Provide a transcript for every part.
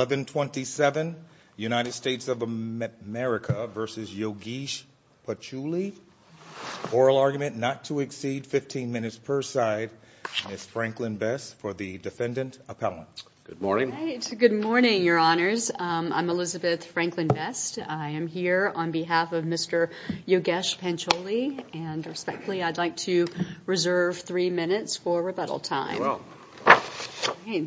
1127 United States of America versus Yogesh Pancholi. Oral argument not to exceed 15 minutes per side. Ms. Franklin Best for the defendant appellant. Good morning. Good morning, your honors. I'm Elizabeth Franklin Best. I am here on behalf of Mr. Yogesh Pancholi. And respectfully, I'd like to reserve three minutes for rebuttal time.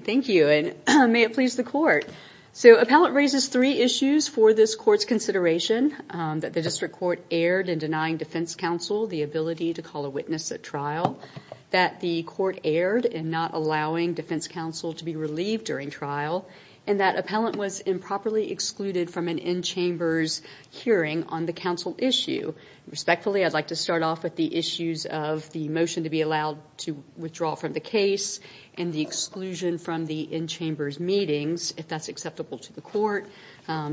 Thank you. And may it please the court. So appellant raises three issues for this court's consideration that the district court erred in denying defense counsel the ability to call a witness at trial, that the court erred in not allowing defense counsel to be relieved during trial, and that appellant was improperly excluded from an in-chambers hearing on the counsel issue. Respectfully, I'd like to start off with the issues of the motion to be allowed to withdraw from the case and the exclusion from the in-chambers meetings, if that's acceptable to the court,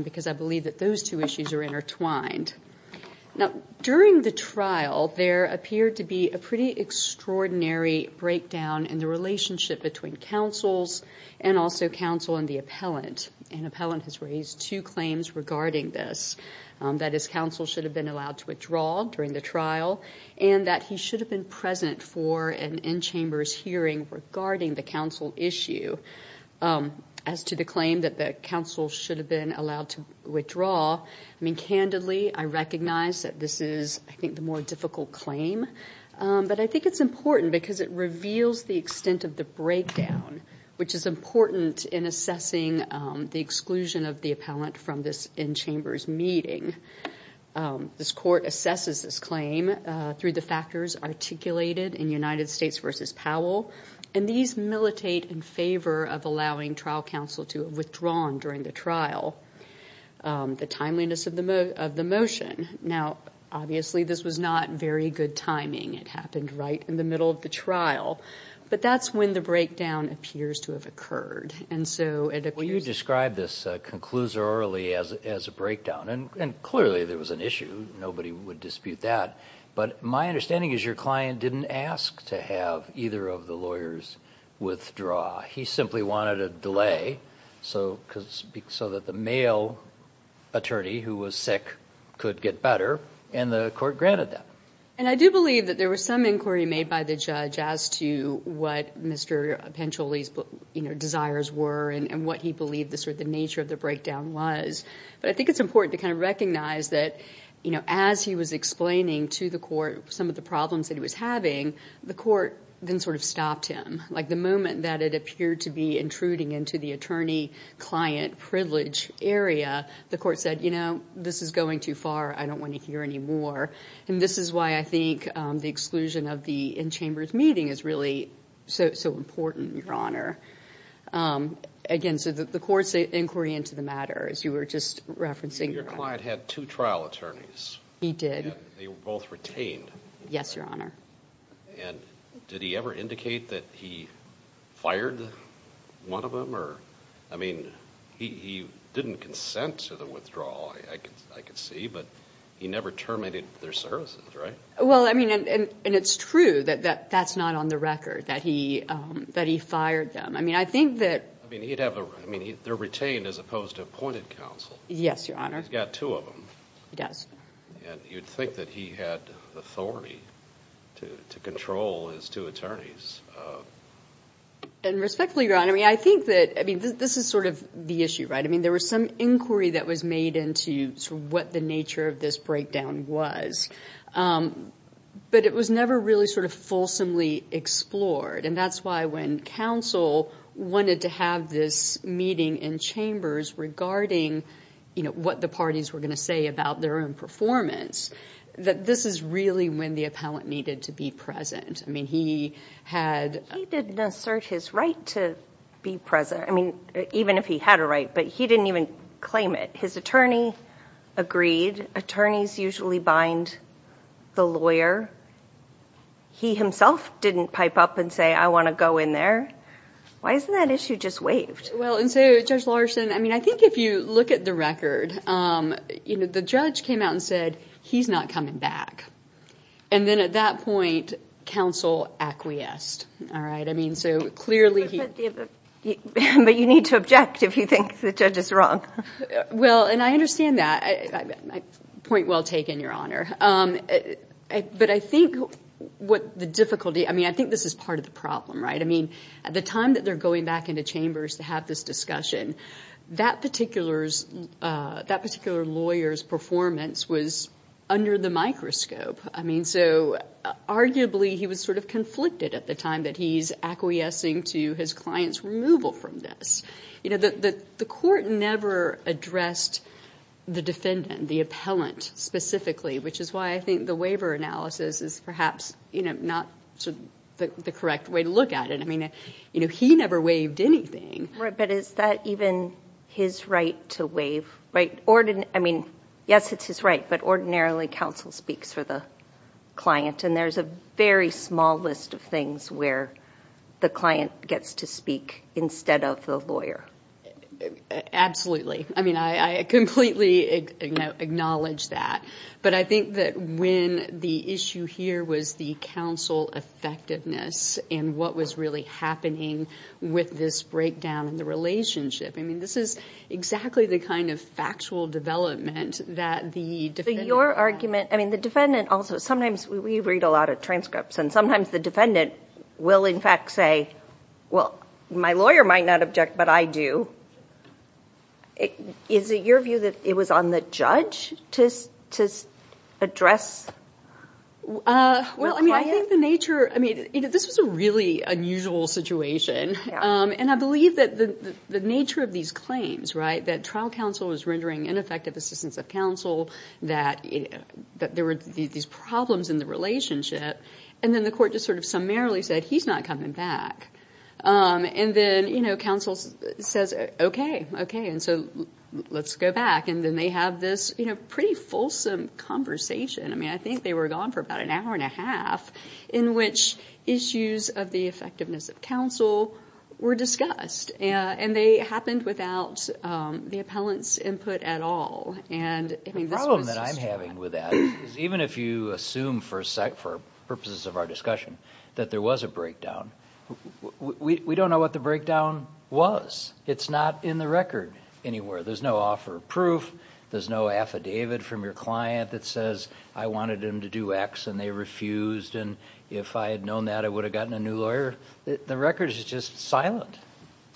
because I believe that those two issues are intertwined. Now, during the trial, there appeared to be a pretty extraordinary breakdown in the relationship between counsels and also counsel and the appellant. And appellant has raised two claims regarding this, that his counsel should have been allowed to withdraw during the trial, and that he should have been present for an in-chambers hearing regarding the counsel issue. As to the claim that the counsel should have been allowed to withdraw, I mean, candidly, I recognize that this is, I think, the more difficult claim. But I think it's important because it reveals the extent of the breakdown, which is important in assessing the exclusion of the appellant from this in-chambers meeting. This court assesses this claim through the factors articulated in United States v. Powell, and these militate in favor of allowing trial counsel to withdraw during the trial. The timeliness of the motion. Now, obviously, this was not very good timing. It happened right in the middle of the trial. But that's when the breakdown appears to have occurred. You described this conclusorially as a breakdown. And clearly, there was an issue. Nobody would dispute that. But my understanding is your client didn't ask to have either of the lawyers withdraw. He simply wanted a delay so that the male attorney who was sick could get better, and the court granted that. And I do believe that there was some inquiry made by the judge as to what Mr. Pancholi's desires were and what he believed the nature of the breakdown was. But I think it's important to kind of recognize that as he was explaining to the court some of the problems that he was having, the court then sort of stopped him. Like the moment that it appeared to be intruding into the attorney-client privilege area, the court said, you know, this is going too far. I don't want to hear any more. And this is why I think the exclusion of the in-chambers meeting is really so important, Your Honor. Again, so the court's inquiry into the matter, as you were just referencing. Your client had two trial attorneys. He did. They were both retained. Yes, Your Honor. And did he ever indicate that he fired one of them? Or, I mean, he didn't consent to the withdrawal, I could see. But he never terminated their services, right? Well, I mean, and it's true that that's not on the record, that he fired them. I mean, I think that... I mean, they're retained as opposed to appointed counsel. Yes, Your Honor. He's got two of them. He does. And you'd think that he had the authority to control his two attorneys. And respectfully, Your Honor, I mean, I think that, I mean, this is sort of the issue, right? I mean, there was some inquiry that was made into sort of what the nature of this breakdown was. But it was never really sort of fulsomely explored. And that's why when counsel wanted to have this meeting in chambers regarding, you know, what the parties were going to say about their own performance, that this is really when the appellant needed to be present. I mean, he had... He didn't assert his right to be present. I mean, even if he had a right, but he didn't even claim it. His attorney agreed. Attorneys usually bind the lawyer. He himself didn't pipe up and say, I want to go in there. Why isn't that issue just waived? Well, and so, Judge Larson, I mean, I think if you look at the record, you know, the judge came out and said, he's not coming back. And then at that point, counsel acquiesced. I mean, so clearly... But you need to object if you think the judge is wrong. Well, and I understand that. Point well taken, Your Honor. But I think what the difficulty... I mean, I think this is part of the problem, right? I mean, at the time that they're going back into chambers to have this discussion, that particular lawyer's performance was under the microscope. I mean, so arguably, he was sort of conflicted at the time that he's acquiescing to his client's removal from this. You know, the court never addressed the defendant, the appellant specifically, which is why I think the waiver analysis is perhaps, you know, not the correct way to look at it. I mean, you know, he never waived anything. But is that even his right to waive, right? I mean, yes, it's his right. But ordinarily, counsel speaks for the client. And there's a very small list of things where the client gets to speak instead of the lawyer. Absolutely. I mean, I completely acknowledge that. But I think that when the issue here was the counsel effectiveness and what was really happening with this breakdown in the relationship, I mean, this is exactly the kind of factual development that the defendant... Your argument... I mean, the defendant also... Sometimes we read a lot of transcripts, and sometimes the defendant will, in fact, say, well, my lawyer might not object, but I do. Is it your view that it was on the judge to address the client? Well, I mean, I think the nature... I mean, this was a really unusual situation. And I believe that the nature of these claims, right, that trial counsel was rendering ineffective assistance of counsel, that there were these problems in the relationship. And then the court just sort of summarily said, he's not coming back. And then, you know, counsel says, okay, okay, and so let's go back. And then they have this, you know, pretty fulsome conversation. I mean, I think they were gone for about an hour and a half in which issues of the effectiveness of counsel were discussed. And they happened without the appellant's input at all. And the problem that I'm having with that is even if you assume for purposes of our discussion that there was a breakdown, we don't know what the breakdown was. It's not in the record anywhere. There's no offer of proof. There's no affidavit from your client that says, I wanted him to do X and they refused. And if I had known that, I would have gotten a new lawyer. The record is just silent.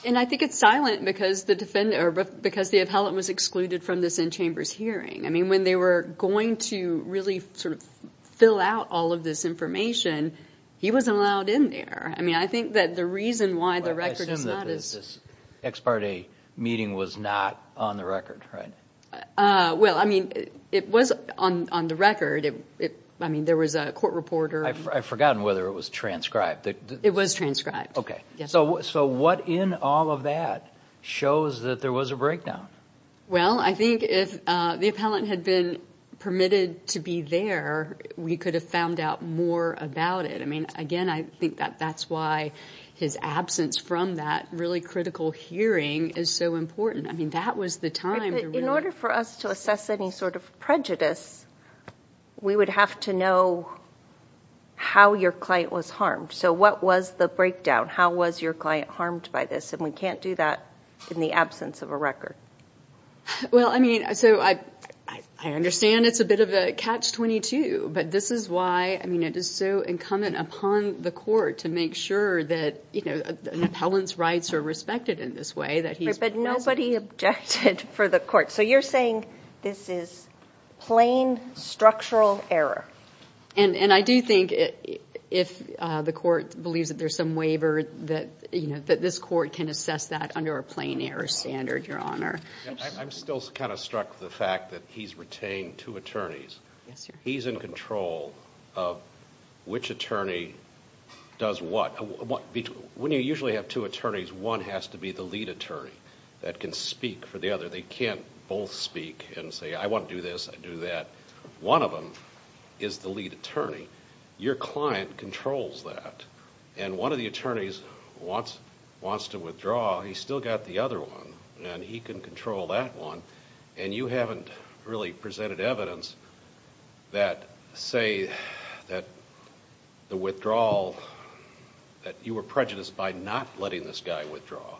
And I think it's silent because the defendant, or because the appellant was excluded from this in-chambers hearing. I mean, when they were going to really sort of fill out all of this information, he wasn't allowed in there. I mean, I think that the reason why the record is not is... I assume that this ex parte meeting was not on the record, right? Well, I mean, it was on the record. I mean, there was a court reporter. I've forgotten whether it was transcribed. It was transcribed. Okay. So what in all of that shows that there was a breakdown? Well, I think if the appellant had been permitted to be there, we could have found out more about it. I mean, again, I think that that's why his absence from that really critical hearing is so important. I mean, that was the time... In order for us to assess any sort of prejudice, we would have to know how your client was harmed. So what was the breakdown? How was your client harmed by this? And we can't do that in the absence of a record. Well, I mean, so I understand it's a bit of a catch-22, but this is why, I mean, it is so incumbent upon the court to make sure that, you know, an appellant's rights are respected in this way that he's... But nobody objected for the court. So you're saying this is plain structural error? And I do think if the court believes that there's some waiver that, you know, that this court can assess that under a plain error standard, Your Honor. I'm still kind of struck with the fact that he's retained two attorneys. He's in control of which attorney does what. When you usually have two attorneys, one has to be the lead attorney that can speak for the other. They can't both speak and say, I want to do this, I do that. One of them is the lead attorney. Your client controls that. And one of the attorneys wants to withdraw. He's still got the other one, and he can control that one. And you haven't really presented evidence that say that the withdrawal, that you were prejudiced by not letting this guy withdraw.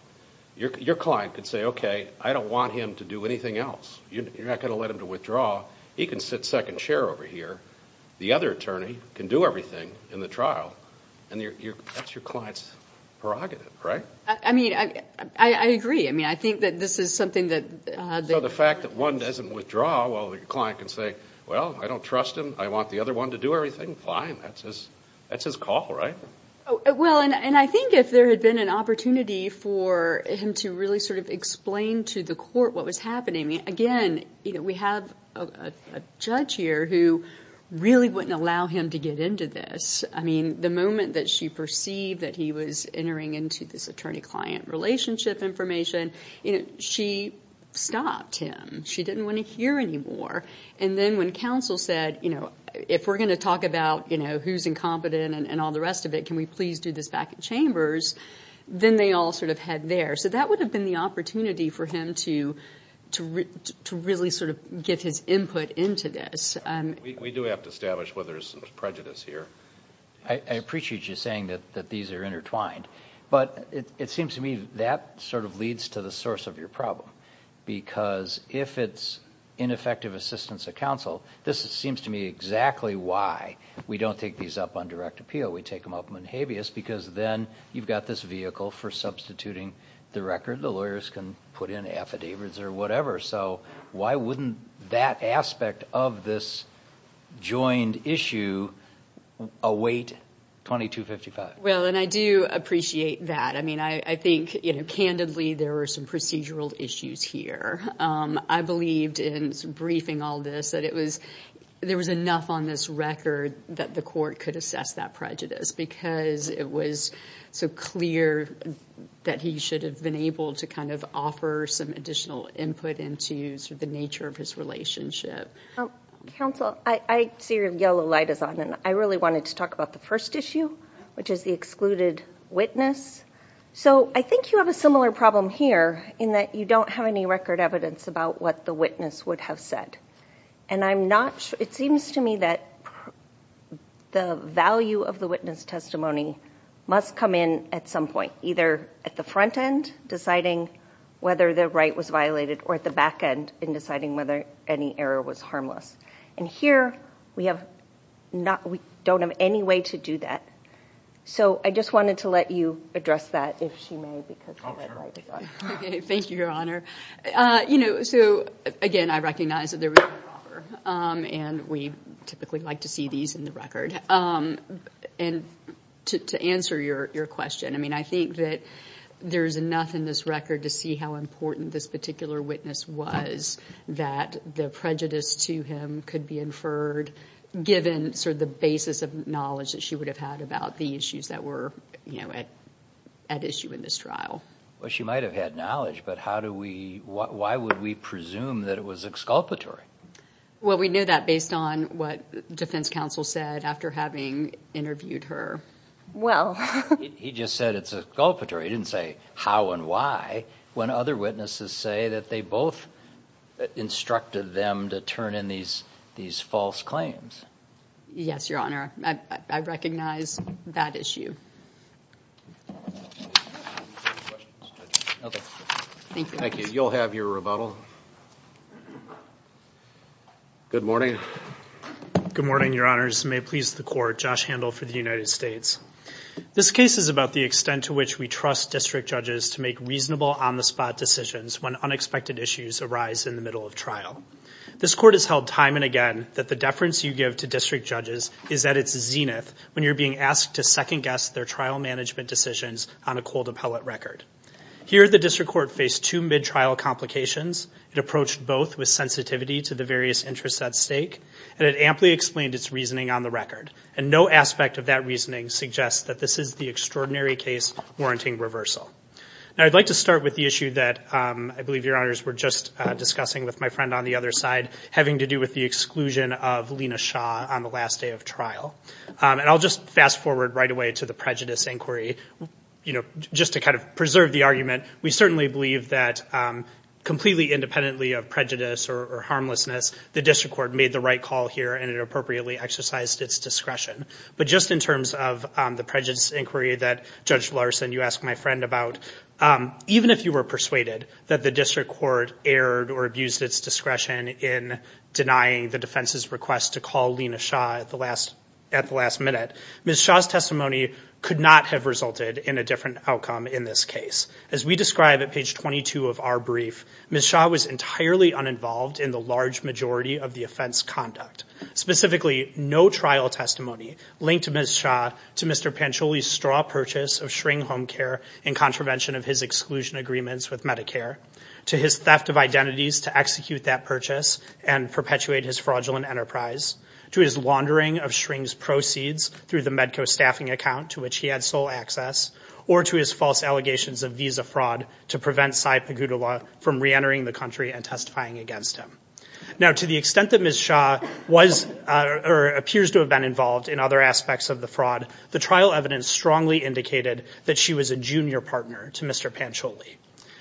Your client could say, okay, I don't want him to do anything else. You're not going to let him to withdraw. He can sit second chair over here. The other attorney can do everything in the trial. And that's your client's prerogative, right? I mean, I agree. I mean, I think that this is something that... So the fact that one doesn't withdraw, while the client can say, well, I don't trust him. I want the other one to do everything. Fine, that's his call, right? Well, and I think if there had been an opportunity for him to really sort of explain to the court what was happening. Again, we have a judge here who really wouldn't allow him to get into this. I mean, the moment that she perceived that he was entering into this attorney-client relationship information, she stopped him. She didn't want to hear anymore. And then when counsel said, if we're going to talk about who's incompetent and all the rest of it, can we please do this back in chambers? Then they all sort of head there. So that would have been the opportunity for him to really sort of get his input into this. We do have to establish whether there's some prejudice here. I appreciate you saying that these are intertwined. But it seems to me that sort of leads to the source of your problem. Because if it's ineffective assistance of counsel, this seems to me exactly why we don't take these up on direct appeal. We take them up on habeas because then you've got this vehicle for substituting the record. The lawyers can put in affidavits or whatever. So why wouldn't that aspect of this joined issue await 2255? Well, and I do appreciate that. I mean, I think, candidly, there were some procedural issues here. I believed in some briefing all this that there was enough on this record that the court could assess that prejudice because it was so clear that he should have been able to kind of offer some additional input into sort of the nature of his relationship. Counsel, I see your yellow light is on. I really wanted to talk about the first issue, which is the excluded witness. So I think you have a similar problem here in that you don't have any record evidence about what the witness would have said. And it seems to me that the value of the witness testimony must come in at some point, either at the front end, deciding whether the right was violated, or at the back end in deciding whether any error was harmless. And here, we have not, we don't have any way to do that. So I just wanted to let you address that, if she may, because... Okay, thank you, Your Honor. You know, so again, I recognize that there was an offer, and we typically like to see these in the record. And to answer your question, I mean, I think that there's enough in this record to see how important this particular witness was that the prejudice to him could be inferred, given sort of the basis of knowledge that she would have had about the issues that were, you know, at issue in this trial. Well, she might have had knowledge, but how do we, why would we presume that it was exculpatory? Well, we knew that based on what defense counsel said after having interviewed her. Well... He just said it's exculpatory. He didn't say how and why, when other witnesses say that they both instructed them to turn in these false claims. Yes, Your Honor, I recognize that issue. Okay. Thank you. You'll have your rebuttal. Good morning. Good morning, Your Honors. May it please the court, Josh Handel for the United States. This case is about the extent to which we trust district judges to make reasonable on-the-spot decisions when unexpected issues arise in the middle of trial. This court has held time and again that the deference you give to district judges is at its zenith when you're being asked to second-guess their trial management decisions on a cold appellate record. Here, the district court faced two mid-trial complications. It approached both with sensitivity to the various interests at stake, and it amply explained its reasoning on the record. And no aspect of that reasoning suggests that this is the extraordinary case warranting reversal. Now, I'd like to start with the issue that I believe Your Honors were just discussing with my friend on the other side, having to do with the exclusion of Lena Shaw on the last day of trial. And I'll just fast forward right away to the prejudice inquiry. You know, just to kind of preserve the argument, we certainly believe that completely independently of prejudice or harmlessness, the district court made the right call here and it appropriately exercised its discretion. But just in terms of the prejudice inquiry that Judge Larson, you asked my friend about, even if you were persuaded that the district court erred or abused its discretion in denying the defense's request to call Lena Shaw at the last minute, Ms. Shaw's testimony could not have resulted in a different outcome in this case. As we describe at page 22 of our brief, Ms. Shaw was entirely uninvolved in the large majority of the offense conduct. Specifically, no trial testimony linked Ms. Shaw to Mr. Pancholi's straw purchase of Schring Home Care in contravention of his exclusion agreements with Medicare, to his theft of identities to execute that purchase and perpetuate his fraudulent enterprise, to his laundering of Schring's proceeds through the Medco staffing account to which he had sole access, or to his false allegations of visa fraud to prevent Sai Pagodula from reentering the country and testifying against him. Now, to the extent that Ms. Shaw appears to have been involved in other aspects of the fraud, the trial evidence strongly indicated that she was a junior partner to Mr. Pancholi.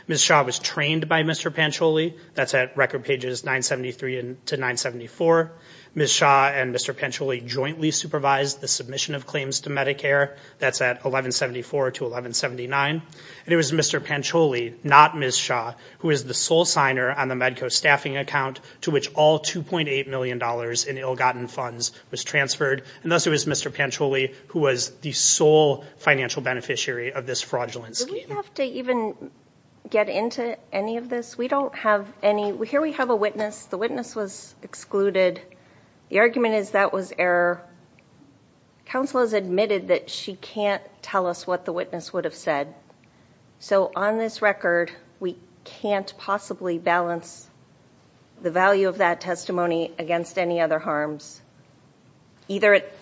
Ms. Shaw was trained by Mr. Pancholi. That's at record pages 973 to 974. Ms. Shaw and Mr. Pancholi jointly supervised the submission of claims to Medicare. That's at 1174 to 1179. And it was Mr. Pancholi, not Ms. Shaw, who is the sole signer on the Medco staffing account to which all $2.8 million in ill-gotten funds was transferred. And thus it was Mr. Pancholi who was the sole financial beneficiary of this fraudulent scheme. Do we have to even get into any of this? We don't have any. Here we have a witness. The witness was excluded. The argument is that was error. Counsel has admitted that she can't tell us what the witness would have said. So on this record, we can't possibly balance the value of that testimony against any other harms, either at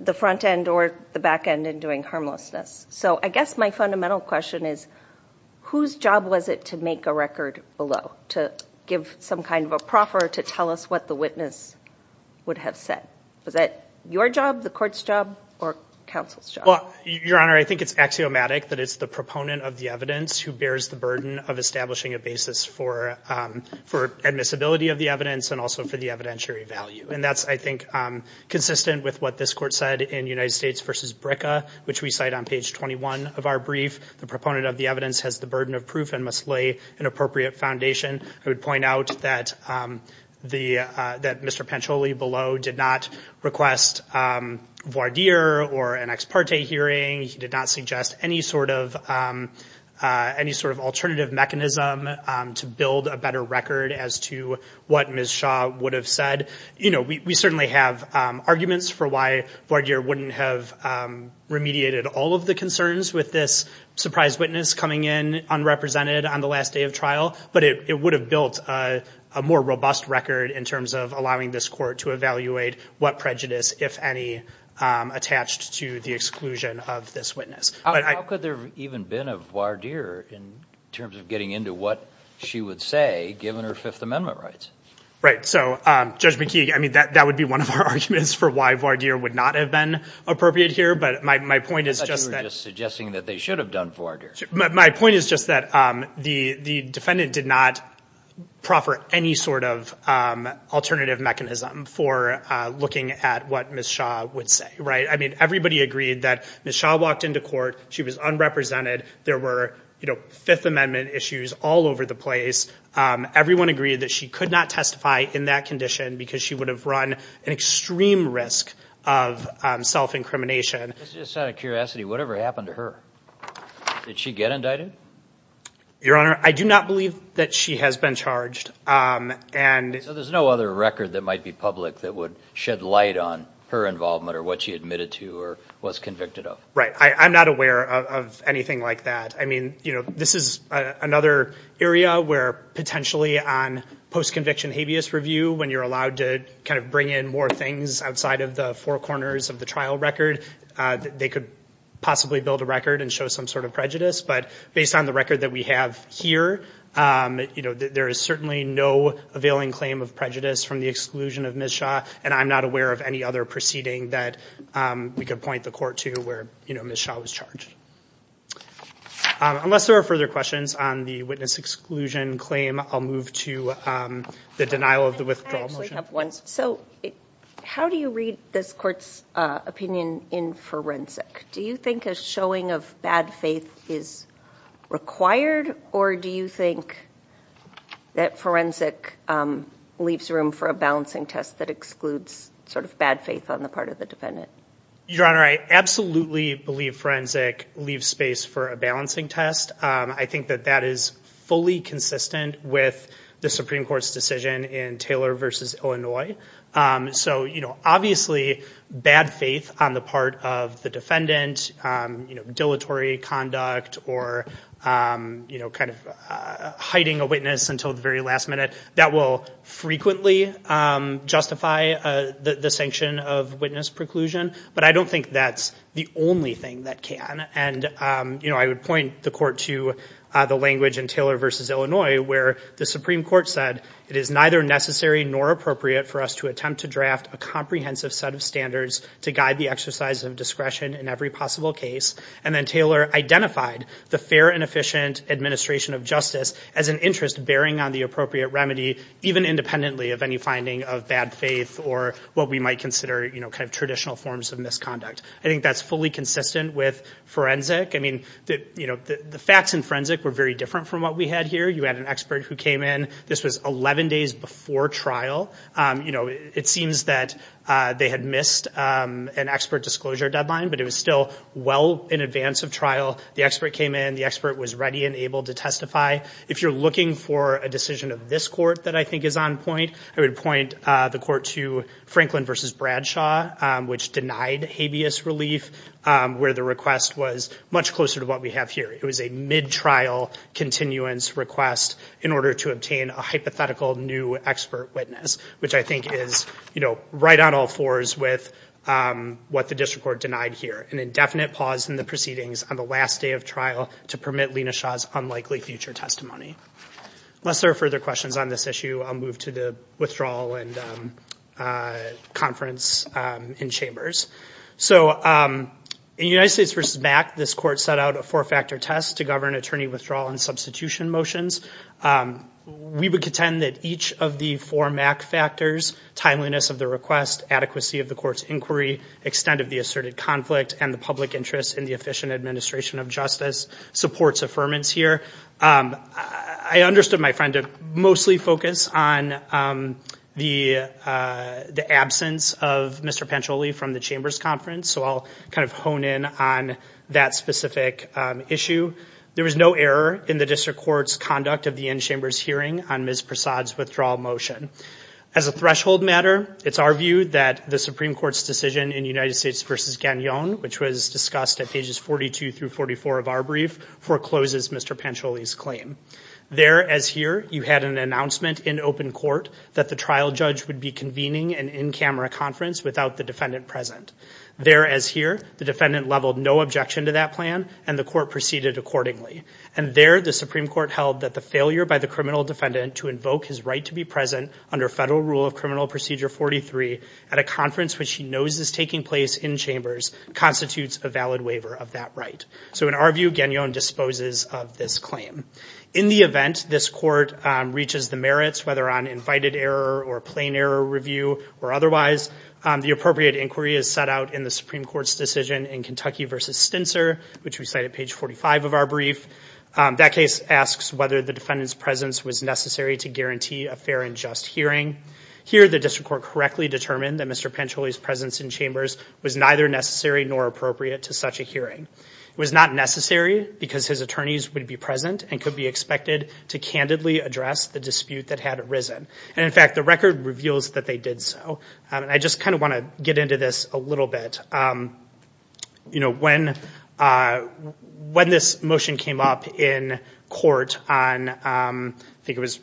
the front end or the back end in doing harmlessness. So I guess my fundamental question is, whose job was it to make a record below to give some kind of a proffer to tell us what the witness would have said? Was that your job, the court's job, or counsel's job? Well, Your Honor, I think it's axiomatic that it's the proponent of the evidence who bears the burden of establishing a basis for admissibility of the evidence and also for the evidentiary value. And that's, I think, consistent with what this court said in United States v. BRCA, which we cite on page 21 of our brief. The proponent of the evidence has the burden of proof and must lay an appropriate foundation. I would point out that Mr. Pancholi below did not request voir dire or an ex parte hearing. He did not suggest any sort of alternative mechanism to build a better record as to what Ms. Shaw would have said. We certainly have arguments for why voir dire wouldn't have remediated all of the concerns with this surprise witness coming in unrepresented on the last day of trial, but it would have built a more robust record in terms of allowing this court to evaluate what prejudice, if any, attached to the exclusion of this witness. How could there even been a voir dire in terms of getting into what she would say given her Fifth Amendment rights? Right. Judge McKee, I mean, that would be one of our arguments for why voir dire would not have been appropriate here, but my point is just that... I thought you were just suggesting that they should have done voir dire. My point is just that the defendant did not proffer any sort of alternative mechanism for looking at what Ms. Shaw would say, right? I mean, everybody agreed that Ms. Shaw walked into court. She was unrepresented. There were Fifth Amendment issues all over the place. Everyone agreed that she could not testify in that condition because she would have run an extreme risk of self-incrimination. Just out of curiosity, whatever happened to her? Did she get indicted? Your Honor, I do not believe that she has been charged. So there's no other record that might be public that would shed light on her involvement or what she admitted to or was convicted of? Right. I'm not aware of anything like that. I mean, this is another area where potentially on post-conviction habeas review, when you're allowed to kind of bring in more things outside of the four corners of the trial record, they could possibly build a record and show some sort of prejudice. But based on the record that we have here, there is certainly no availing claim of prejudice from the exclusion of Ms. Shaw. And I'm not aware of any other proceeding that we could point the court to where Ms. Shaw was charged. Unless there are further questions on the witness exclusion claim, I'll move to the denial of the withdrawal motion. So how do you read this court's opinion in forensic? Do you think a showing of bad faith is required or do you think that forensic leaves room for a balancing test that excludes sort of bad faith on the part of the defendant? Your Honor, I absolutely believe forensic leaves space for a balancing test. I think that that is fully consistent with the Supreme Court's decision in Taylor v. Illinois. So obviously, bad faith on the part of the defendant, dilatory conduct or kind of hiding a witness until the very last minute, that will frequently justify the sanction of witness preclusion. But I don't think that's the only thing that can. And I would point the court to the language in Taylor v. Illinois where the Supreme Court said, it is neither necessary nor appropriate for us to attempt to draft a comprehensive set of standards to guide the exercise of discretion in every possible case. And then Taylor identified the fair and efficient administration of justice as an interest bearing on the appropriate remedy, even independently of any finding of bad faith or what we might consider, you know, kind of traditional forms of misconduct. I think that's fully consistent with forensic. I mean, you know, the facts in forensic were very different from what we had here. You had an expert who came in. This was 11 days before trial. You know, it seems that they had missed an expert disclosure deadline, but it was still well in advance of trial. The expert came in, the expert was ready and able to testify. If you're looking for a decision of this court that I think is on point, I would point the court to Franklin v. Bradshaw, which denied habeas relief where the request was much closer to what we have here. It was a mid-trial continuance request in order to obtain a hypothetical new expert witness, which I think is, you know, right on all fours with what the district court denied here. An indefinite pause in the proceedings on the last day of trial to permit Lena Shaw's unlikely future testimony. Unless there are further questions on this issue, I'll move to the withdrawal and conference in chambers. So in United States v. Mack, this court set out a four-factor test to govern attorney withdrawal and substitution motions. We would contend that each of the four Mack factors, timeliness of the request, adequacy of the court's inquiry, extent of the asserted conflict, and the public interest in the efficient administration of justice, supports affirmance here. I understood my friend to mostly focus on the absence of Mr. Pancholi from the chambers conference, so I'll kind of hone in on that specific issue. There was no error in the district court's conduct of the in-chambers hearing on Ms. Prasad's withdrawal motion. As a threshold matter, it's our view that the Supreme Court's decision in United States v. Gagnon, which was discussed at pages 42 through 44 of our brief, forecloses Mr. Pancholi's claim. There, as here, you had an announcement in open court that the trial judge would be convening an in-camera conference without the defendant present. There, as here, the defendant leveled no objection to that plan, and the court proceeded accordingly. And there, the Supreme Court held that the failure by the criminal defendant to invoke his right to be present under federal rule of criminal procedure 43 at a conference which he knows is taking place in chambers constitutes a valid waiver of that right. So in our view, Gagnon disposes of this claim. In the event this court reaches the merits, whether on invited error or plain error review or otherwise, the appropriate inquiry is set out in the Supreme Court's decision in Kentucky v. Stintzer, which we cite at page 45 of our brief. That case asks whether the defendant's presence was necessary to guarantee a fair and just hearing. Here, the district court correctly determined that Mr. Pancholi's presence in chambers was neither necessary nor appropriate to such a hearing. It was not necessary because his attorneys would be present and could be expected to candidly address the dispute that had arisen. And in fact, the record reveals that they did so. And I just kind of want to get into this a little bit. You know, when this motion came up in court on, I think it was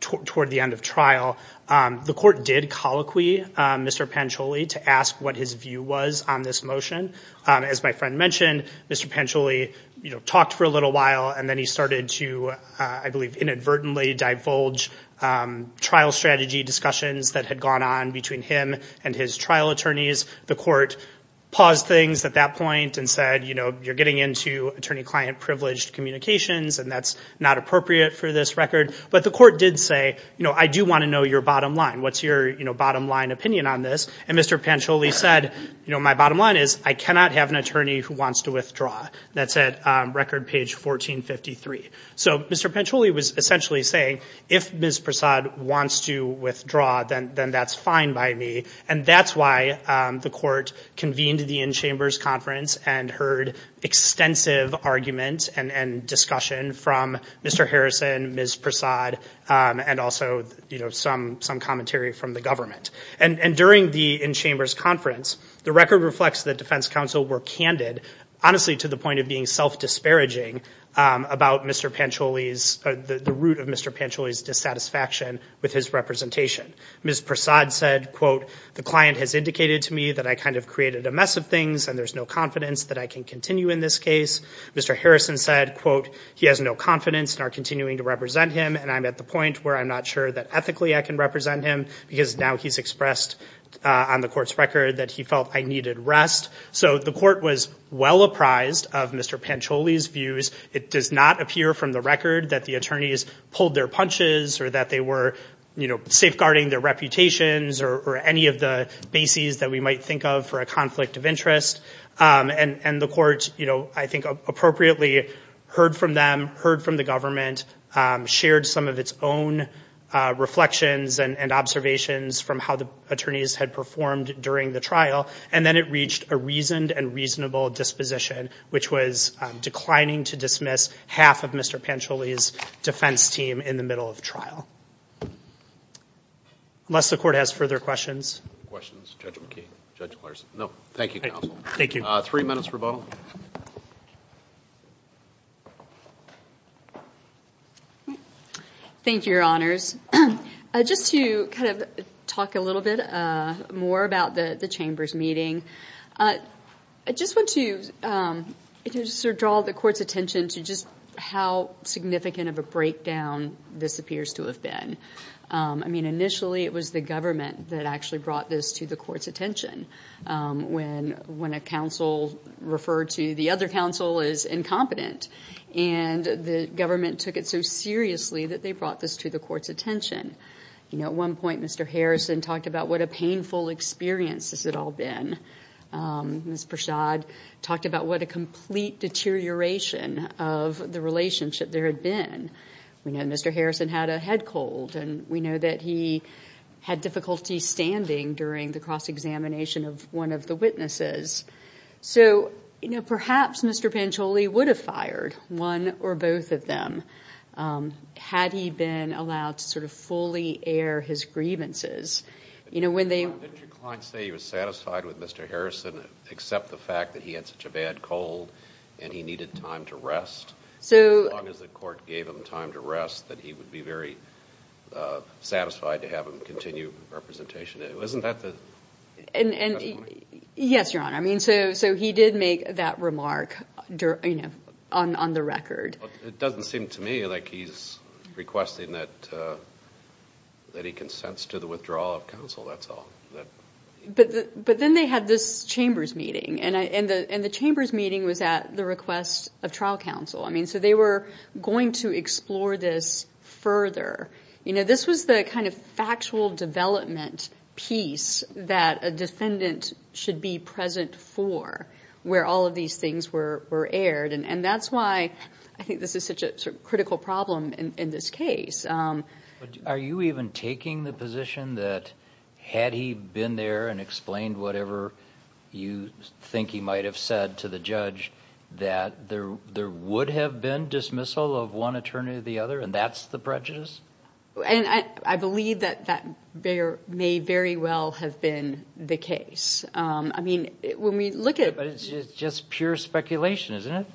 toward the end of trial, the court did colloquy Mr. Pancholi to ask what his view was on this motion. As my friend mentioned, Mr. Pancholi, you know, talked for a little while and then he started to, I believe, inadvertently divulge trial strategy discussions that had gone on between him and his trial attorneys. The court paused things at that point and said, you know, you're getting into attorney-client privileged communications and that's not appropriate for this record. But the court did say, you know, I do want to know your bottom line. What's your, you know, bottom line opinion on this? And Mr. Pancholi said, you know, my bottom line is I cannot have an attorney who wants to withdraw. That's at record page 1453. So Mr. Pancholi was essentially saying if Ms. Prasad wants to withdraw, then that's fine by me. And that's why the court convened the in-chambers conference and heard extensive argument and discussion from Mr. Harrison, Ms. Prasad, and also, you know, some commentary from the government. And during the in-chambers conference, the record reflects that defense counsel were candid, honestly, to the point of being self disparaging about Mr. Pancholi's, the root of Mr. Pancholi's dissatisfaction with his representation. Ms. Prasad said, quote, the client has indicated to me that I kind of created a mess of things and there's no confidence that I can continue in this case. Mr. Harrison said, quote, he has no confidence in our continuing to represent him. And I'm at the point where I'm not sure that ethically I can represent him because now he's expressed on the court's record that he felt I needed rest. So the court was well apprised of Mr. Pancholi's views. It does not appear from the record that the attorneys pulled their punches or that they were, you know, safeguarding their reputations or any of the bases that we might think of for a conflict of interest. And the court, you know, I think appropriately heard from them, heard from the government, shared some of its own reflections and observations from how the attorneys had performed during the trial. And then it reached a reasoned and reasonable disposition, which was declining to dismiss half of Mr. Pancholi's defense team in the middle of trial. Unless the court has further questions. Questions, Judge McKee, Judge Larson. No, thank you, counsel. Thank you. Three minutes for voting. Thank you, your honors. Just to kind of talk a little bit more about the chamber's meeting. I just want to draw the court's attention to just how significant of a breakdown this appears to have been. I mean, initially it was the government that actually brought this to the court's attention. When a counsel referred to the other counsel as incompetent and the government took it so seriously that they brought this to the court's attention. You know, at one point, Mr. Harrison talked about what a painful experience this had all been. Ms. Prashad talked about what a complete deterioration of the relationship there had been. We know Mr. Harrison had a head cold and we know that he had difficulty standing during the cross-examination of one of the witnesses. So, you know, perhaps Mr. Pancholi would have fired one or both of them had he been allowed to sort of fully air his grievances. You know, when they- Didn't your client say he was satisfied with Mr. Harrison except the fact that he had such a bad cold and he needed time to rest? So- As long as the court gave him time to rest that he would be very satisfied to have him continue representation. Isn't that the- Yes, Your Honor. I mean, so he did make that remark on the record. It doesn't seem to me like he's requesting that that he consents to the withdrawal of counsel, that's all. But then they had this chambers meeting and the chambers meeting was at the request of trial counsel. I mean, so they were going to explore this further. You know, this was the kind of factual development piece that a defendant should be present for where all of these things were aired. And that's why I think this is such a critical problem in this case. Are you even taking the position that had he been there and explained whatever you think he might have said to the judge that there would have been a dismissal of one attorney to the other and that's the prejudice? And I believe that that may very well have been the case. I mean, when we look at- But it's just pure speculation, isn't it?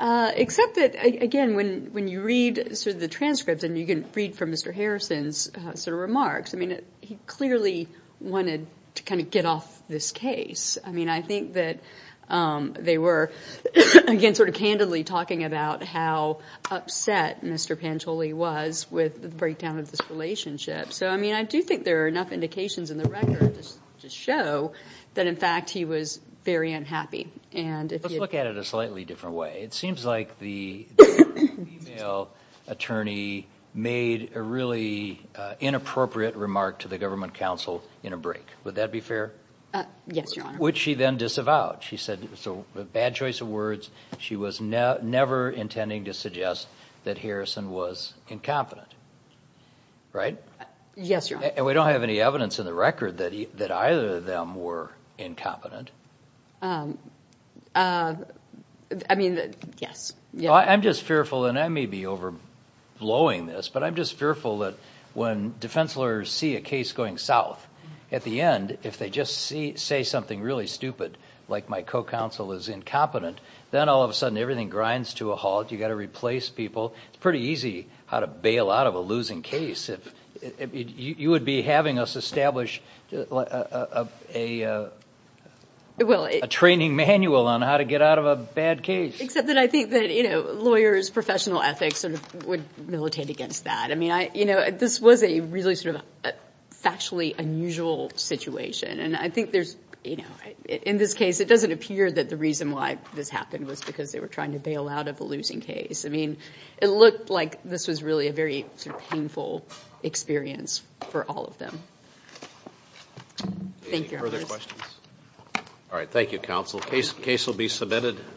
Except that, again, when you read sort of the transcripts and you can read from Mr. Harrison's sort of remarks, I mean, he clearly wanted to kind of get off this case. I mean, I think that they were, again, sort of candidly talking about how upset Mr. Pancholi was with the breakdown of this relationship. So, I mean, I do think there are enough indications in the record just to show that, in fact, he was very unhappy. And if you- Let's look at it a slightly different way. It seems like the female attorney made a really inappropriate remark to the government counsel in a break. Would that be fair? Yes, Your Honor. Would she then disavow it? She said it was a bad choice of words. She was never intending to suggest that Harrison was incompetent, right? Yes, Your Honor. And we don't have any evidence in the record that either of them were incompetent. I mean, yes. I'm just fearful, and I may be overblowing this, but I'm just fearful that when defense lawyers see a case going south, at the end, if they just say something really stupid, like my co-counsel is incompetent, then all of a sudden, everything grinds to a halt. You've got to replace people. It's pretty easy how to bail out of a losing case. You would be having us establish a training manual on how to get out of a bad case. Except that I think that lawyers, professional ethics would militate against that. I mean, this was a really sort of factually unusual situation. And I think there's, in this case, it doesn't appear that the reason why this happened was because they were trying to bail out of a losing case. I mean, it looked like this was really a very painful experience for all of them. Thank you. Any further questions? All right. Thank you, counsel. Case will be submitted.